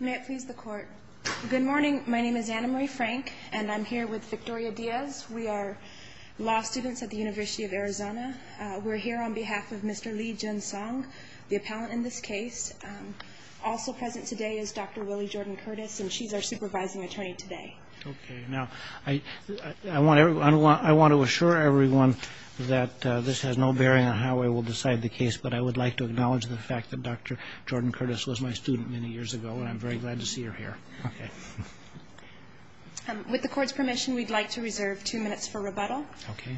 May it please the court. Good morning, my name is Anna Marie Frank and I'm here with Victoria Diaz. We are law students at the University of Arizona. We're here on behalf of Mr. Lee Jin Song, the appellant in this case. Also present today is Dr. Willie Jordan Curtis and she's our supervising attorney today. Okay, now I want to assure everyone that this has no bearing on how I will decide the case, but I would like to acknowledge the fact that Dr. Jordan Curtis was my student many years ago and I'm very glad to see her here. With the court's permission we'd like to reserve two minutes for rebuttal. Okay.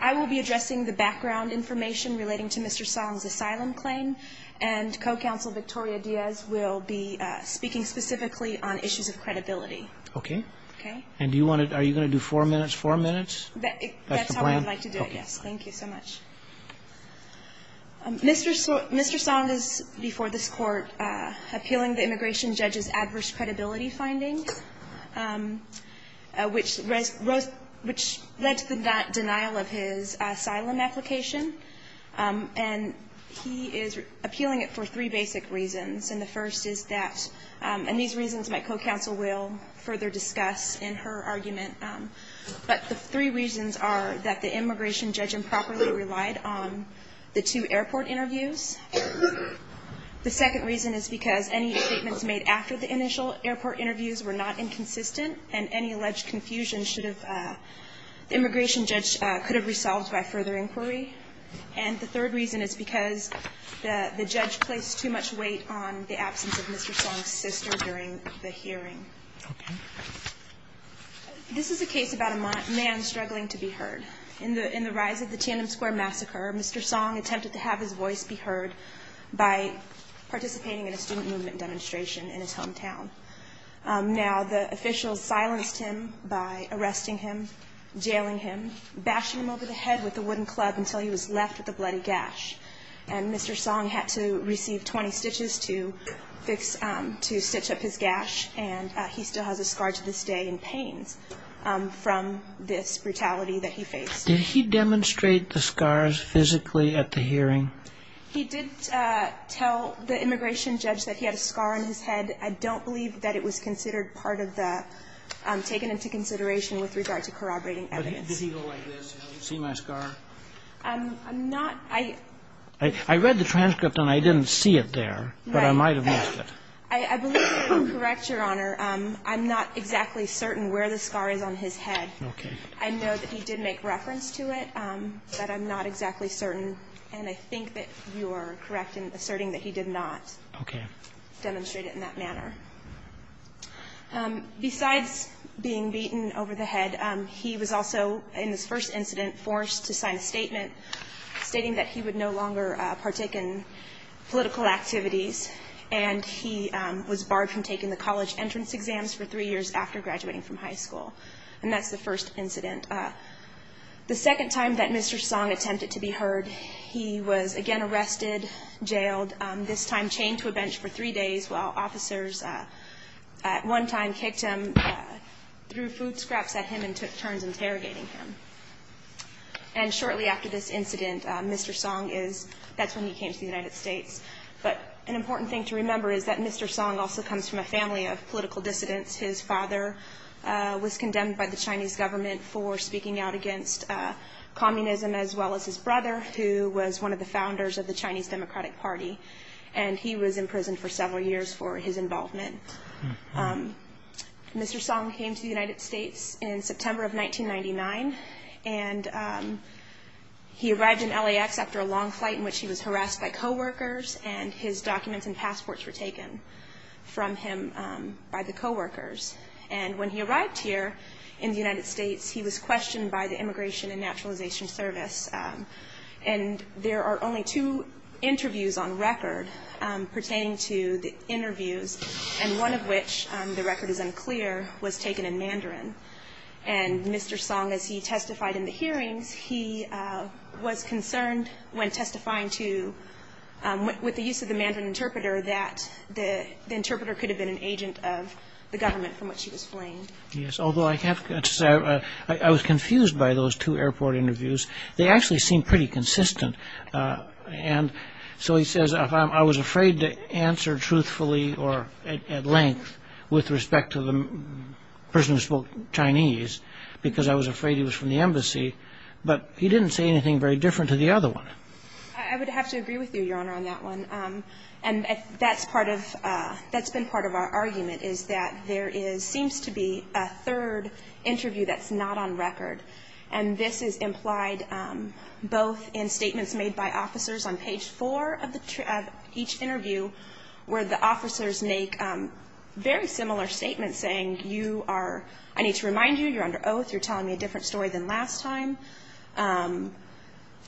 I will be addressing the background information relating to Mr. Song's asylum claim and co-counsel Victoria Diaz will be speaking specifically on issues of credibility. Okay. Okay. And do you want to, are you going to do four minutes, four minutes? That's how I would like to do it, yes. Thank you so much. Mr. Song is before this court appealing the immigration judge's adverse credibility findings, which led to the denial of his asylum application. And he is appealing it for three basic reasons and the first is that, and these reasons my co-counsel will further discuss in her argument, but the three reasons are that the immigration judge improperly relied on the two airport interviews. The second reason is because any statements made after the initial airport interviews were not inconsistent and any alleged confusion should have, the immigration judge could have resolved by further inquiry. And the third reason is because the judge placed too much weight on the absence of Mr. Song's sister during the hearing. Okay. This is a case about a man struggling to be heard. In the rise of the Tandem Square Massacre, Mr. Song attempted to have his voice be heard by participating in a student movement demonstration in his hometown. Now, the officials silenced him by arresting him, jailing him, bashing him over the head with a wooden club until he was left with a bloody gash. And Mr. Song had to receive 20 stitches to fix, to stitch up his gash and he still has a scar to this day in pains from this brutality that he faced. Did he demonstrate the scars physically at the hearing? He did tell the immigration judge that he had a scar on his head. I don't believe that it was considered part of the, taken into consideration with regard to corroborating evidence. But does he go like this, you know, you see my scar? I'm not, I, I read the transcript and I didn't see it there, but I might have missed it. I believe you are correct, Your Honor. I'm not exactly certain where the scar is on his head. I know that he did make reference to it, but I'm not exactly certain. And I think that you are correct in asserting that he did not demonstrate it in that manner. Besides being beaten over the head, he was also in this first incident forced to sign a statement stating that he would no longer partake in political activities. And he was barred from taking the college entrance exams for three years after graduating from high school. And that's the first incident. The second time that Mr. Song attempted to be heard, he was again arrested, jailed, this time chained to a bench for three days while officers at one time kicked him, threw food scraps at him and took turns interrogating him. And shortly after this incident, Mr. Song is, that's when he came to the United States. But an important thing to remember is that Mr. Song also comes from a family of political dissidents. His father was condemned by the Chinese government for speaking out against communism, as well as his brother, who was one of the founders of the Chinese Democratic Party. And he was in prison for several years for his involvement. Mr. Song came to the United States in 1999. And he arrived in LAX after a long flight in which he was harassed by co-workers and his documents and passports were taken from him by the co-workers. And when he arrived here in the United States, he was questioned by the Immigration and Naturalization Service. And there are only two interviews on record pertaining to the interviews, and one of which, the record is unclear, was taken in Mandarin. And Mr. Song, as he testified in the hearings, he was concerned when testifying to, with the use of the Mandarin interpreter, that the interpreter could have been an agent of the government from which he was flamed. Yes, although I have to say, I was confused by those two airport interviews. They actually seem pretty consistent. And so he says, I was afraid to answer truthfully or at length with respect to the person who spoke Chinese, because I was afraid he was from the embassy. But he didn't say anything very different to the other one. I would have to agree with you, Your Honor, on that one. And that's part of, that's been part of our argument is that there is, seems to be a third interview that's not on record. And this is implied both in statements made by officers on page four of each interview, where the officers make very similar statements saying, you are, I need to remind you, you're under oath, you're telling me a different story than last time.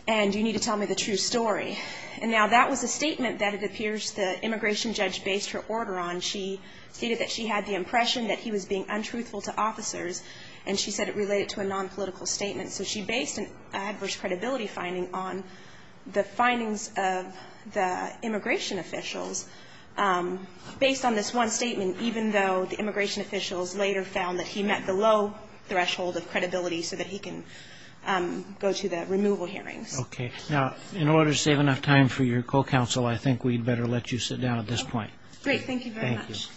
And you need to tell me the true story. And now that was a statement that it appears the immigration judge based her order on. She stated that she had the impression that he was being untruthful to officers. And she said it related to a nonpolitical statement. So she based an adverse credibility finding on the findings of the immigration officials based on this one statement, even though the immigration officials later found that he met the low threshold of credibility so that he can go to the removal hearings. Okay. Now, in order to save enough time for your co-counsel, I think we'd better let you sit down at this point. Great. Thank you very much.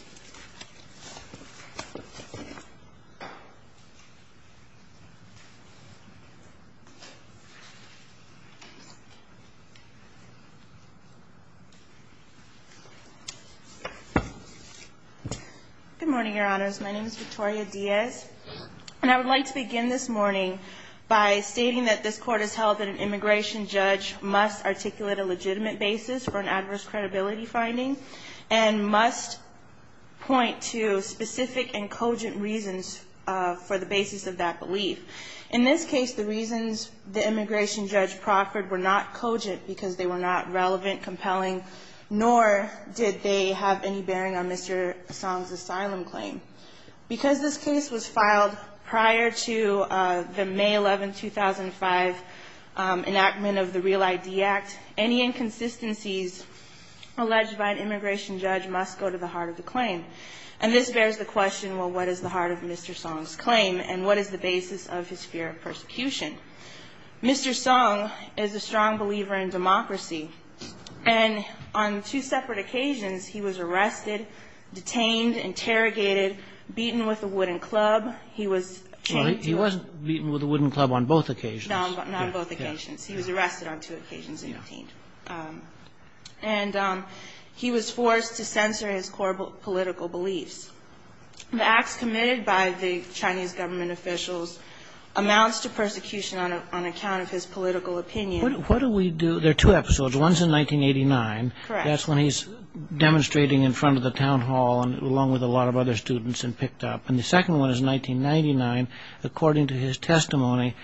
Good morning, Your Honors. My name is Victoria Diaz. And I would like to begin this morning by stating that this court has held that an immigration judge must articulate a legitimate basis for an adverse credibility finding and must point to specific and were not cogent because they were not relevant, compelling, nor did they have any bearing on Mr. Song's asylum claim. Because this case was filed prior to the May 11, 2005, enactment of the REAL-ID Act, any inconsistencies alleged by an immigration judge must go to the heart of the claim. And this bears the question, well, what is the heart of Mr. Song's claim? And what is the basis of his fear of persecution? Mr. Song is a strong believer in democracy. And on two separate occasions, he was arrested, detained, interrogated, beaten with a wooden club. He was beaten to a ---- He wasn't beaten with a wooden club on both occasions. No, not on both occasions. He was arrested on two occasions and detained. And he was forced to censor his core political beliefs. The acts committed by the Chinese government officials amounts to persecution on account of his political opinion. What do we do? There are two episodes. One's in 1989. Correct. That's when he's demonstrating in front of the town hall along with a lot of other students and picked up. And the second one is 1999. According to his testimony,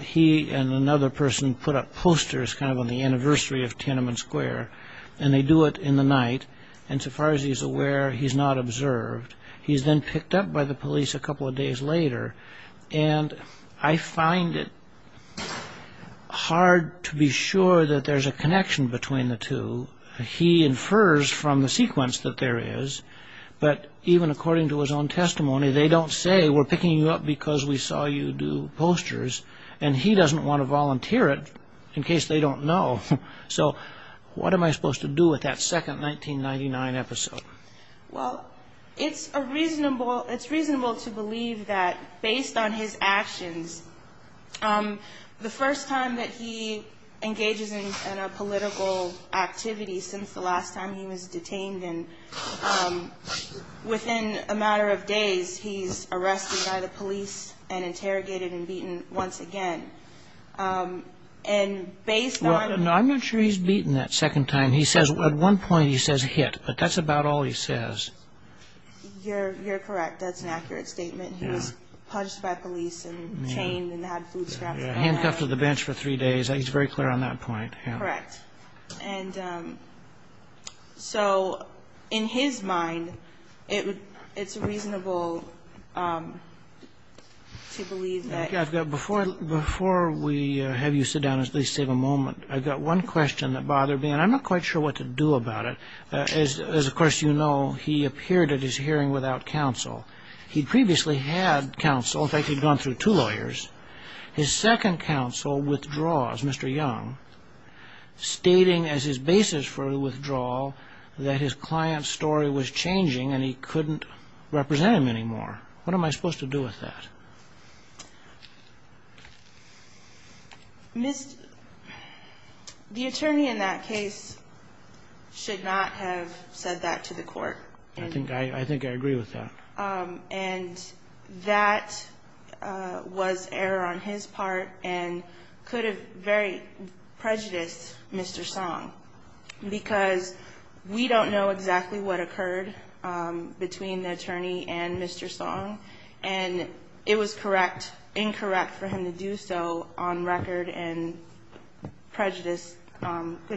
he and another person put up posters kind of on the anniversary of Tiananmen Square. And they do it in the night. And so far as he's aware, he's not observed. He's then picked up by the police a couple of days later. And I find it hard to be sure that there's a connection between the two. He infers from the sequence that there is. But even according to his own testimony, they don't say, we're picking you up because we saw you do posters. And he doesn't want to volunteer it in case they don't know. So what am I supposed to do with that second 1999 episode? Well, it's reasonable to believe that based on his actions, the first time that he engages in a political activity since the last time he was detained and within a matter of days, he's arrested by the police and interrogated and beaten once again. And based on... No, I'm not sure he's beaten that second time. He says at one point he says hit. But that's about all he says. You're correct. That's an accurate statement. He was punched by police and chained and had food scraps and all that. Handcuffed to the bench for three days. He's very clear on that point. Correct. And so in his mind, it's reasonable to believe that... Before we have you sit down and at least save a moment, I've got one question that bothered me and I'm not quite sure what to do about it. As of course you know, he appeared at his hearing without counsel. He'd previously had counsel. In fact, he'd gone through two lawyers. His second counsel withdraws, Mr. Young, stating as his basis for withdrawal that his client's story was changing and he couldn't represent him anymore. What am I supposed to do with that? The attorney in that case should not have said that to the court. I think I agree with that. And that was error on his part and could have very prejudiced Mr. Song because we don't know exactly what occurred between the It was correct, incorrect for him to do so on record and could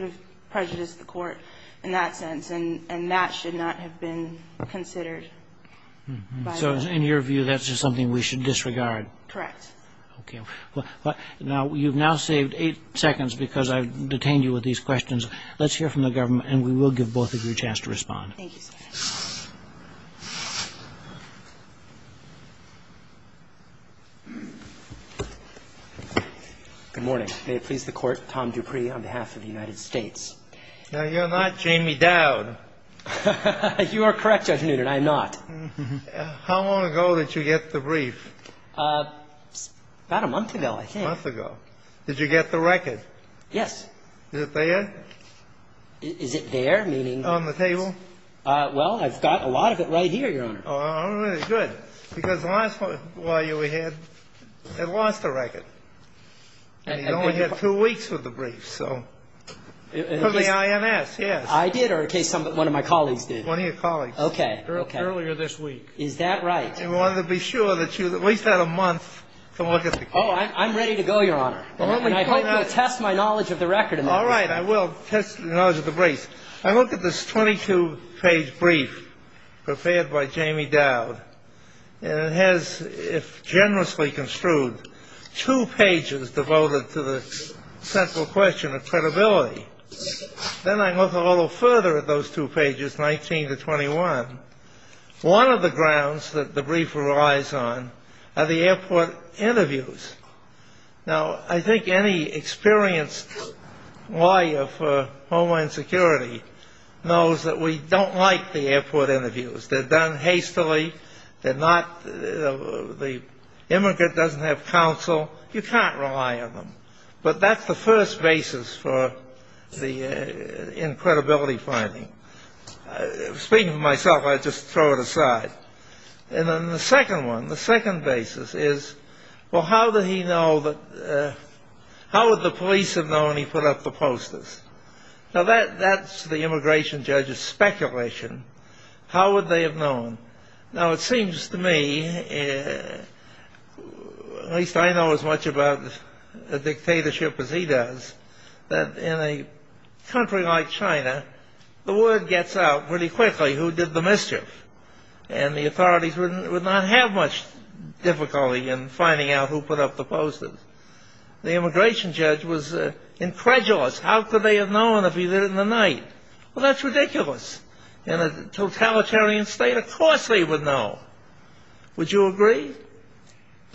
have prejudiced the court in that sense. And that should not have been considered. So in your view, that's just something we should disregard? Correct. Okay. You've now saved eight seconds because I've detained you with these questions. Let's hear from the government and we will give both of you a chance to respond. Thank you, sir. Good morning. May it please the Court, Tom Dupree on behalf of the United States. Now, you're not Jamie Dowd. You are correct, Judge Noonan. I am not. How long ago did you get the brief? About a month ago, I think. A month ago. Did you get the record? Yes. Is it there? Is it there, meaning? On the table? Well, I've got a lot of it right here, Your Honor. All right. Good. Because the last one while you were here, they lost the record. And you only had two weeks with the brief. So, for the INS, yes. I did, or in case one of my colleagues did. One of your colleagues. Okay. Earlier this week. Is that right? And we wanted to be sure that you at least had a month to look at the case. Oh, I'm ready to go, Your Honor. And I hope you'll test my knowledge of the record. All right. I will test your knowledge of the brief. I look at this 22-page brief prepared by Jamie Dowd. And it has, if generously construed, two pages devoted to the central question of credibility. Then I look a little further at those two pages, 19 to 21. One of the grounds that the brief relies on are the airport interviews. Now, I think any experienced lawyer for Homeland Security knows that we don't like the airport interviews. They're done hastily. They're not, the immigrant doesn't have counsel. You can't rely on them. But that's the first basis for the, in credibility finding. Speaking for myself, I'll just throw it aside. And then the second one, the second basis is, well, how did he know that, how would the police have known he put up the posters? Now, that's the immigration judge's speculation. How would they have known? Now, it seems to me, at least I know as much about a dictatorship as he does, that in a country like China, the word gets out pretty quickly who did the mischief. And the authorities would not have much difficulty in finding out who put up the posters. The immigration judge was incredulous. How could they have known if he did it in the night? Well, that's ridiculous. In a totalitarian state, of course they would know. Would you agree?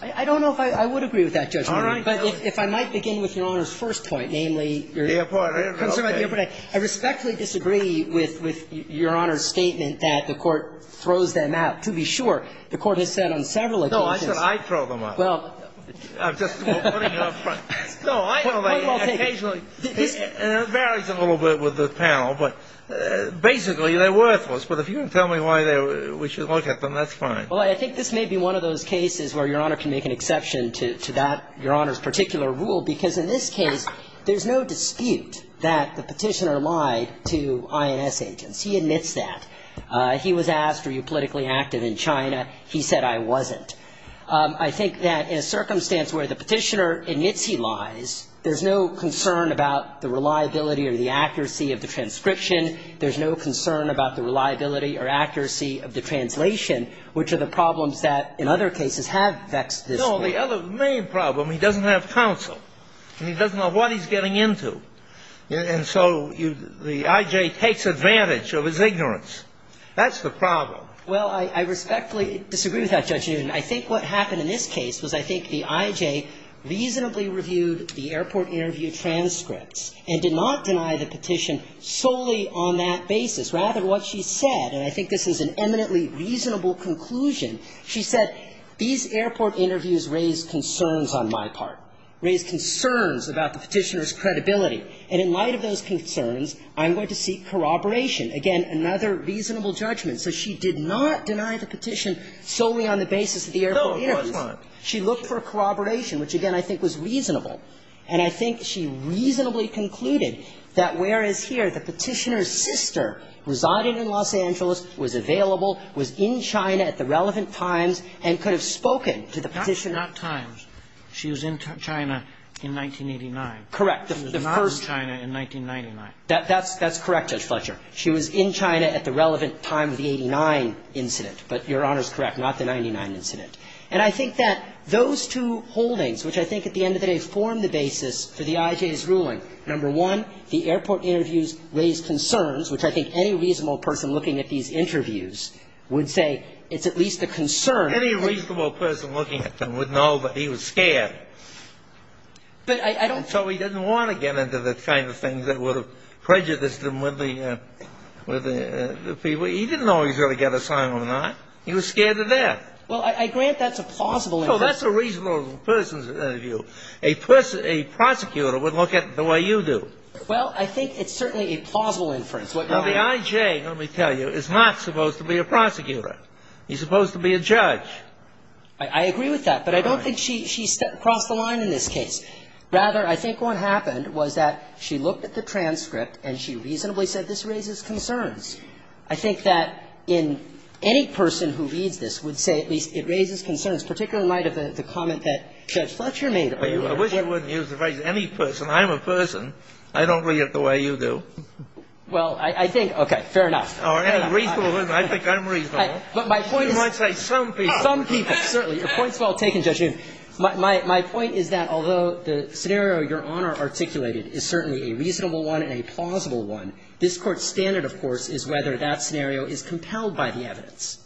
I don't know if I, I would agree with that, Judge. All right. But if I might begin with Your Honor's first point, namely, your concern about the airport. I respectfully disagree with Your Honor's statement that the court throws them out. To be sure, the court has said on several occasions. No, I said I'd throw them out. Well. I'm just putting it up front. No, I, well, they occasionally. It varies a little bit with the panel. But basically, they're worthless. But if you can tell me why we should look at them, that's fine. Well, I think this may be one of those cases where Your Honor can make an exception to that, Your Honor's particular rule. Because in this case, there's no dispute that the petitioner lied to INS agents. He admits that. He was asked, are you politically active in China? He said, I wasn't. I think that in a circumstance where the petitioner admits he lies, there's no concern about the reliability or the accuracy of the transcription. There's no concern about the reliability or accuracy of the translation, which are the problems that in other cases have vexed this court. Well, the other main problem, he doesn't have counsel. And he doesn't know what he's getting into. And so the I.J. takes advantage of his ignorance. That's the problem. Well, I respectfully disagree with that, Judge Newton. I think what happened in this case was I think the I.J. reasonably reviewed the airport interview transcripts and did not deny the petition solely on that basis. Rather, what she said, and I think this is an eminently reasonable conclusion, she said, these airport interviews raised concerns on my part, raised concerns about the petitioner's credibility. And in light of those concerns, I'm going to seek corroboration. Again, another reasonable judgment. So she did not deny the petition solely on the basis of the airport interviews. No, it was not. She looked for corroboration, which again I think was reasonable. And I think she reasonably concluded that whereas here the petitioner's sister residing in Los Angeles was available, was in China at the relevant times, and could have spoken to the petitioner. Not times. She was in China in 1989. Correct. She was not in China in 1999. That's correct, Judge Fletcher. She was in China at the relevant time of the 89 incident. But Your Honor's correct, not the 99 incident. And I think that those two holdings, which I think at the end of the day form the basis for the I.J.'s ruling, number one, the airport interviews raised concerns, which I think any reasonable person looking at these interviews would say it's at least a concern. Any reasonable person looking at them would know that he was scared. But I don't... And so he didn't want to get into the kind of things that would have prejudiced him with the people. He didn't know he was going to get assigned or not. He was scared to death. Well, I grant that's a plausible inference. No, that's a reasonable person's view. A prosecutor would look at it the way you do. Well, I think it's certainly a plausible inference. Now, the I.J., let me tell you, is not supposed to be a prosecutor. He's supposed to be a judge. I agree with that. But I don't think she crossed the line in this case. Rather, I think what happened was that she looked at the transcript and she reasonably said this raises concerns. I think that any person who reads this would say at least it raises concerns, particularly in light of the comment that Judge Fletcher made. I wish I wouldn't use the phrase any person. I'm a person. I don't read it the way you do. Well, I think, okay, fair enough. Or any reasonable person. I think I'm reasonable. You might say some people. Some people, certainly. Your point's well taken, Judge Yoon. My point is that although the scenario Your Honor articulated is certainly a reasonable one and a plausible one, this Court's standard, of course, is whether that scenario is compelled by the evidence.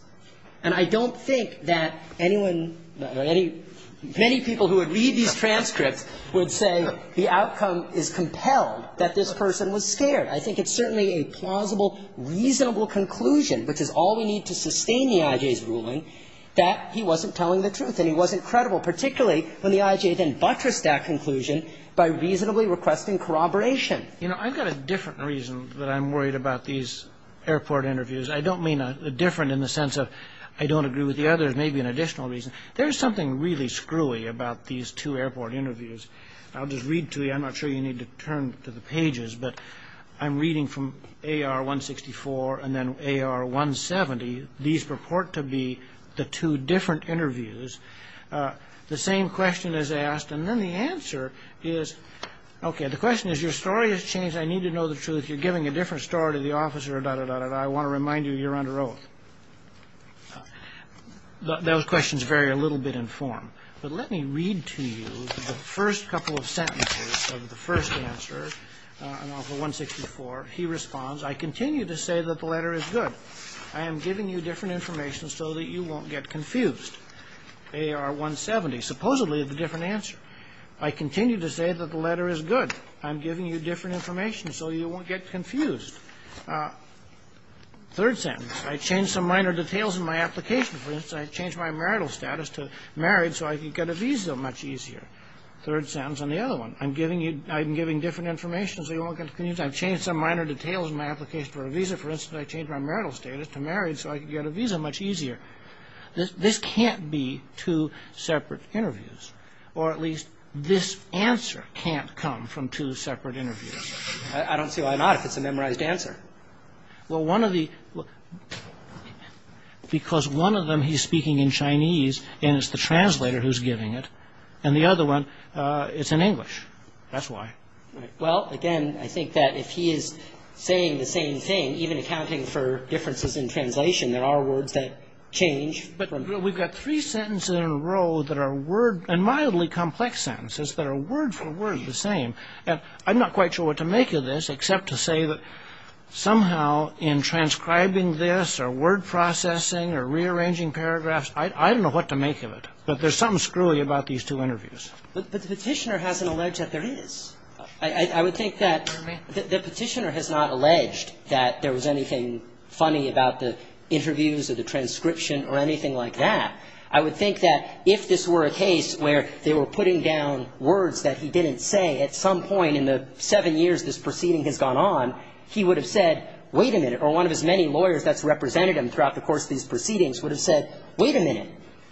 And I don't think that anyone, many people who would read these transcripts would say the outcome is compelled, that this person was scared. I think it's certainly a plausible, reasonable conclusion, which is all we need to sustain the I.J.'s ruling, that he wasn't telling the truth and he wasn't credible, particularly when the I.J. then buttressed that conclusion by reasonably requesting corroboration. You know, I've got a different reason that I'm worried about these airport interviews. I don't mean a different in the sense of I don't agree with the others, maybe an additional reason. There is something really screwy about these two airport interviews. I'll just read to you. I'm not sure you need to turn to the pages, but I'm reading from AR-164 and then AR-170. These purport to be the two different interviews. The same question is asked, and then the answer is, okay, the question is your story has changed. I need to know the truth. You're giving a different story to the officer, da-da-da-da-da. I want to remind you you're under oath. Those questions vary a little bit in form, but let me read to you the first couple of sentences of the first answer in AR-164. He responds, I continue to say that the letter is good. I am giving you different information so that you won't get confused. AR-170, supposedly the different answer. I continue to say that the letter is good. I'm giving you different information so you won't get confused. Third sentence, I changed some minor details in my application. For instance, I changed my marital status to married so I could get a visa much easier. Third sentence on the other one, I'm giving you, I'm giving different information so you won't get confused. I've changed some minor details in my application for a visa. For instance, I changed my marital status to married so I could get a visa much easier. This can't be two separate interviews, or at least this answer can't come from two separate interviews. I don't see why not if it's a memorized answer. Well, one of the, because one of them he's speaking in Chinese and it's the translator who's giving it, and the other one it's in English. That's why. Well, again, I think that if he is saying the same thing, even accounting for differences in translation, there are words that change. But we've got three sentences in a row that are word, and mildly complex sentences that are word for word the same. And I'm not quite sure what to make of this except to say that somehow in transcribing this or word processing or rearranging paragraphs, I don't know what to make of it. But there's something screwy about these two interviews. But the petitioner hasn't alleged that there is. I would think that the petitioner has not alleged that there was anything funny about the interviews or the transcription or anything like that. I would think that if this were a case where they were putting down words that he didn't say at some point in the seven years this proceeding has gone on, he would have said wait a minute or one of his many lawyers that's represented him throughout the course of these proceedings would have said wait a minute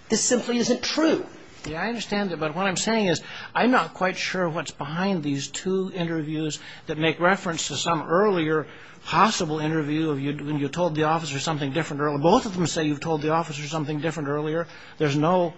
this simply isn't true. Yeah, I understand that. But what I'm saying is I'm not quite sure what's behind these two interviews that make reference to some earlier possible interview when you told the officer something different earlier. Both of them say you've told the officer something different earlier. There's no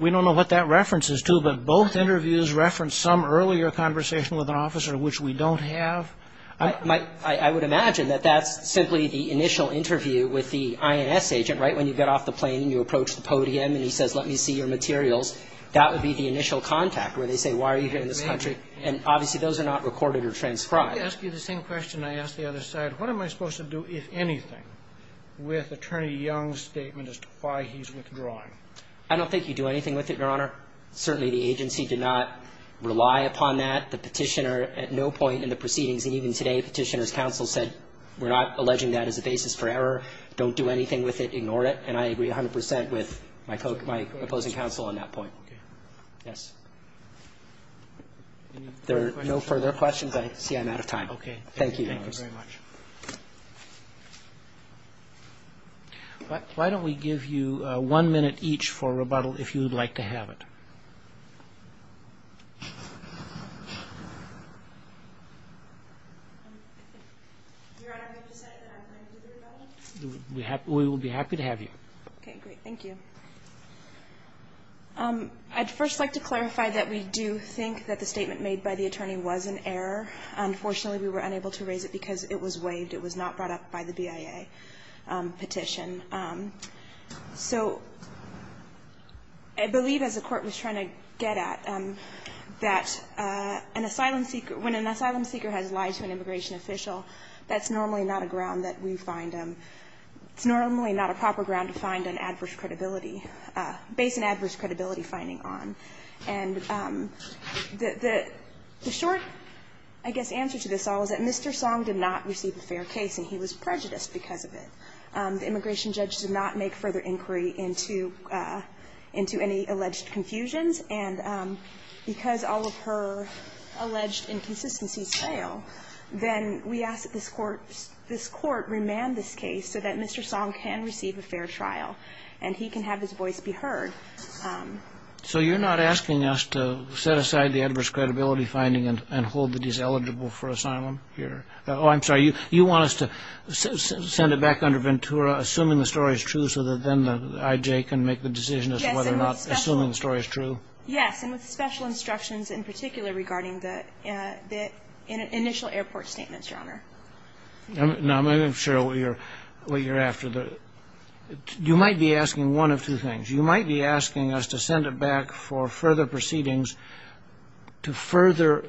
we don't know what that reference is to both interviews reference some earlier conversation with an officer which we don't have. I would imagine that that's simply the initial interview with the INS agent right when you get off the plane and you approach the podium and he says let me see your materials that would be the initial contact where they say why are you here in this country and obviously those are not recorded or transcribed. May I ask you the same question I asked the other side what am I supposed to do if anything with Attorney Young's statement as to why he's withdrawing? I don't think you do anything with it Your Honor. Certainly the agency did not rely upon that. The petitioner at no point in the proceedings and even today the petitioner's counsel said we're not alleging that as a basis for error. Don't do anything with it. Ignore it. And I agree 100% with my opposing counsel on that point. Yes. There are no further questions. I see I'm out of time. Okay. Thank you. Thank you very much. Why don't we give you one minute each for rebuttal if you would like to have it. We will be happy to have you. Okay. Great. Thank you. I'd first like to clarify that we do think that the statement made by the attorney was an error. Unfortunately we were unable to raise it because it was waived. It was not brought up by the BIA petition. So I believe as the court was trying to get at that an asylum seeker when an asylum seeker has lied to an immigration official that's normally not a ground that we find it's normally not a proper ground to find an adverse credibility based on an adverse credibility finding on. And the short I guess answer to this all is that Mr. Song did not receive a fair case and he was prejudiced because of it. The immigration judge did not make further inquiry into any alleged confusions and because all of her alleged inconsistencies fail then we ask that this court remand this case so that Mr. Song can receive a fair trial and he can have his voice be heard. So you're not asking us to set aside the adverse credibility finding and hold that he's eligible for asylum here? Oh, I'm sorry. You want us to send it back under Ventura assuming the story is true so that then the IJ can make the decision as to whether or not assuming the story is true? Yes. And with special instructions in particular regarding the initial airport statements, Your Honor. Now, I'm not sure what you're after. You might be asking one of two things. You might be asking us to send it back for further proceedings to further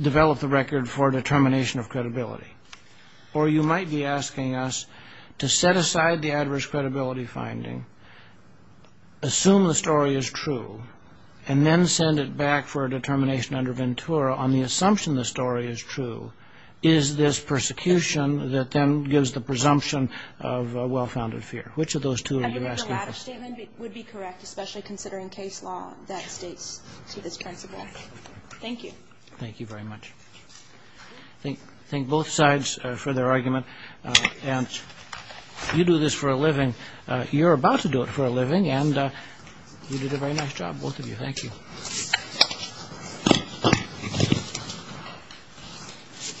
develop the record for determination of credibility or you might be asking us to set aside the adverse credibility finding, assume the story is true, and then send it back for a determination under Ventura on the assumption the story is true, is this persecution that then gives the presumption of a well-founded fear? Which of those two are you asking? I think the latter statement would be correct especially considering case law that states to this principle. Thank you. Thank you very much. Thank both sides for their argument and you do this for a living you're about to do it for a living and you did a very nice job both of you. Thank you.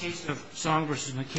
The case of Song is adjourned.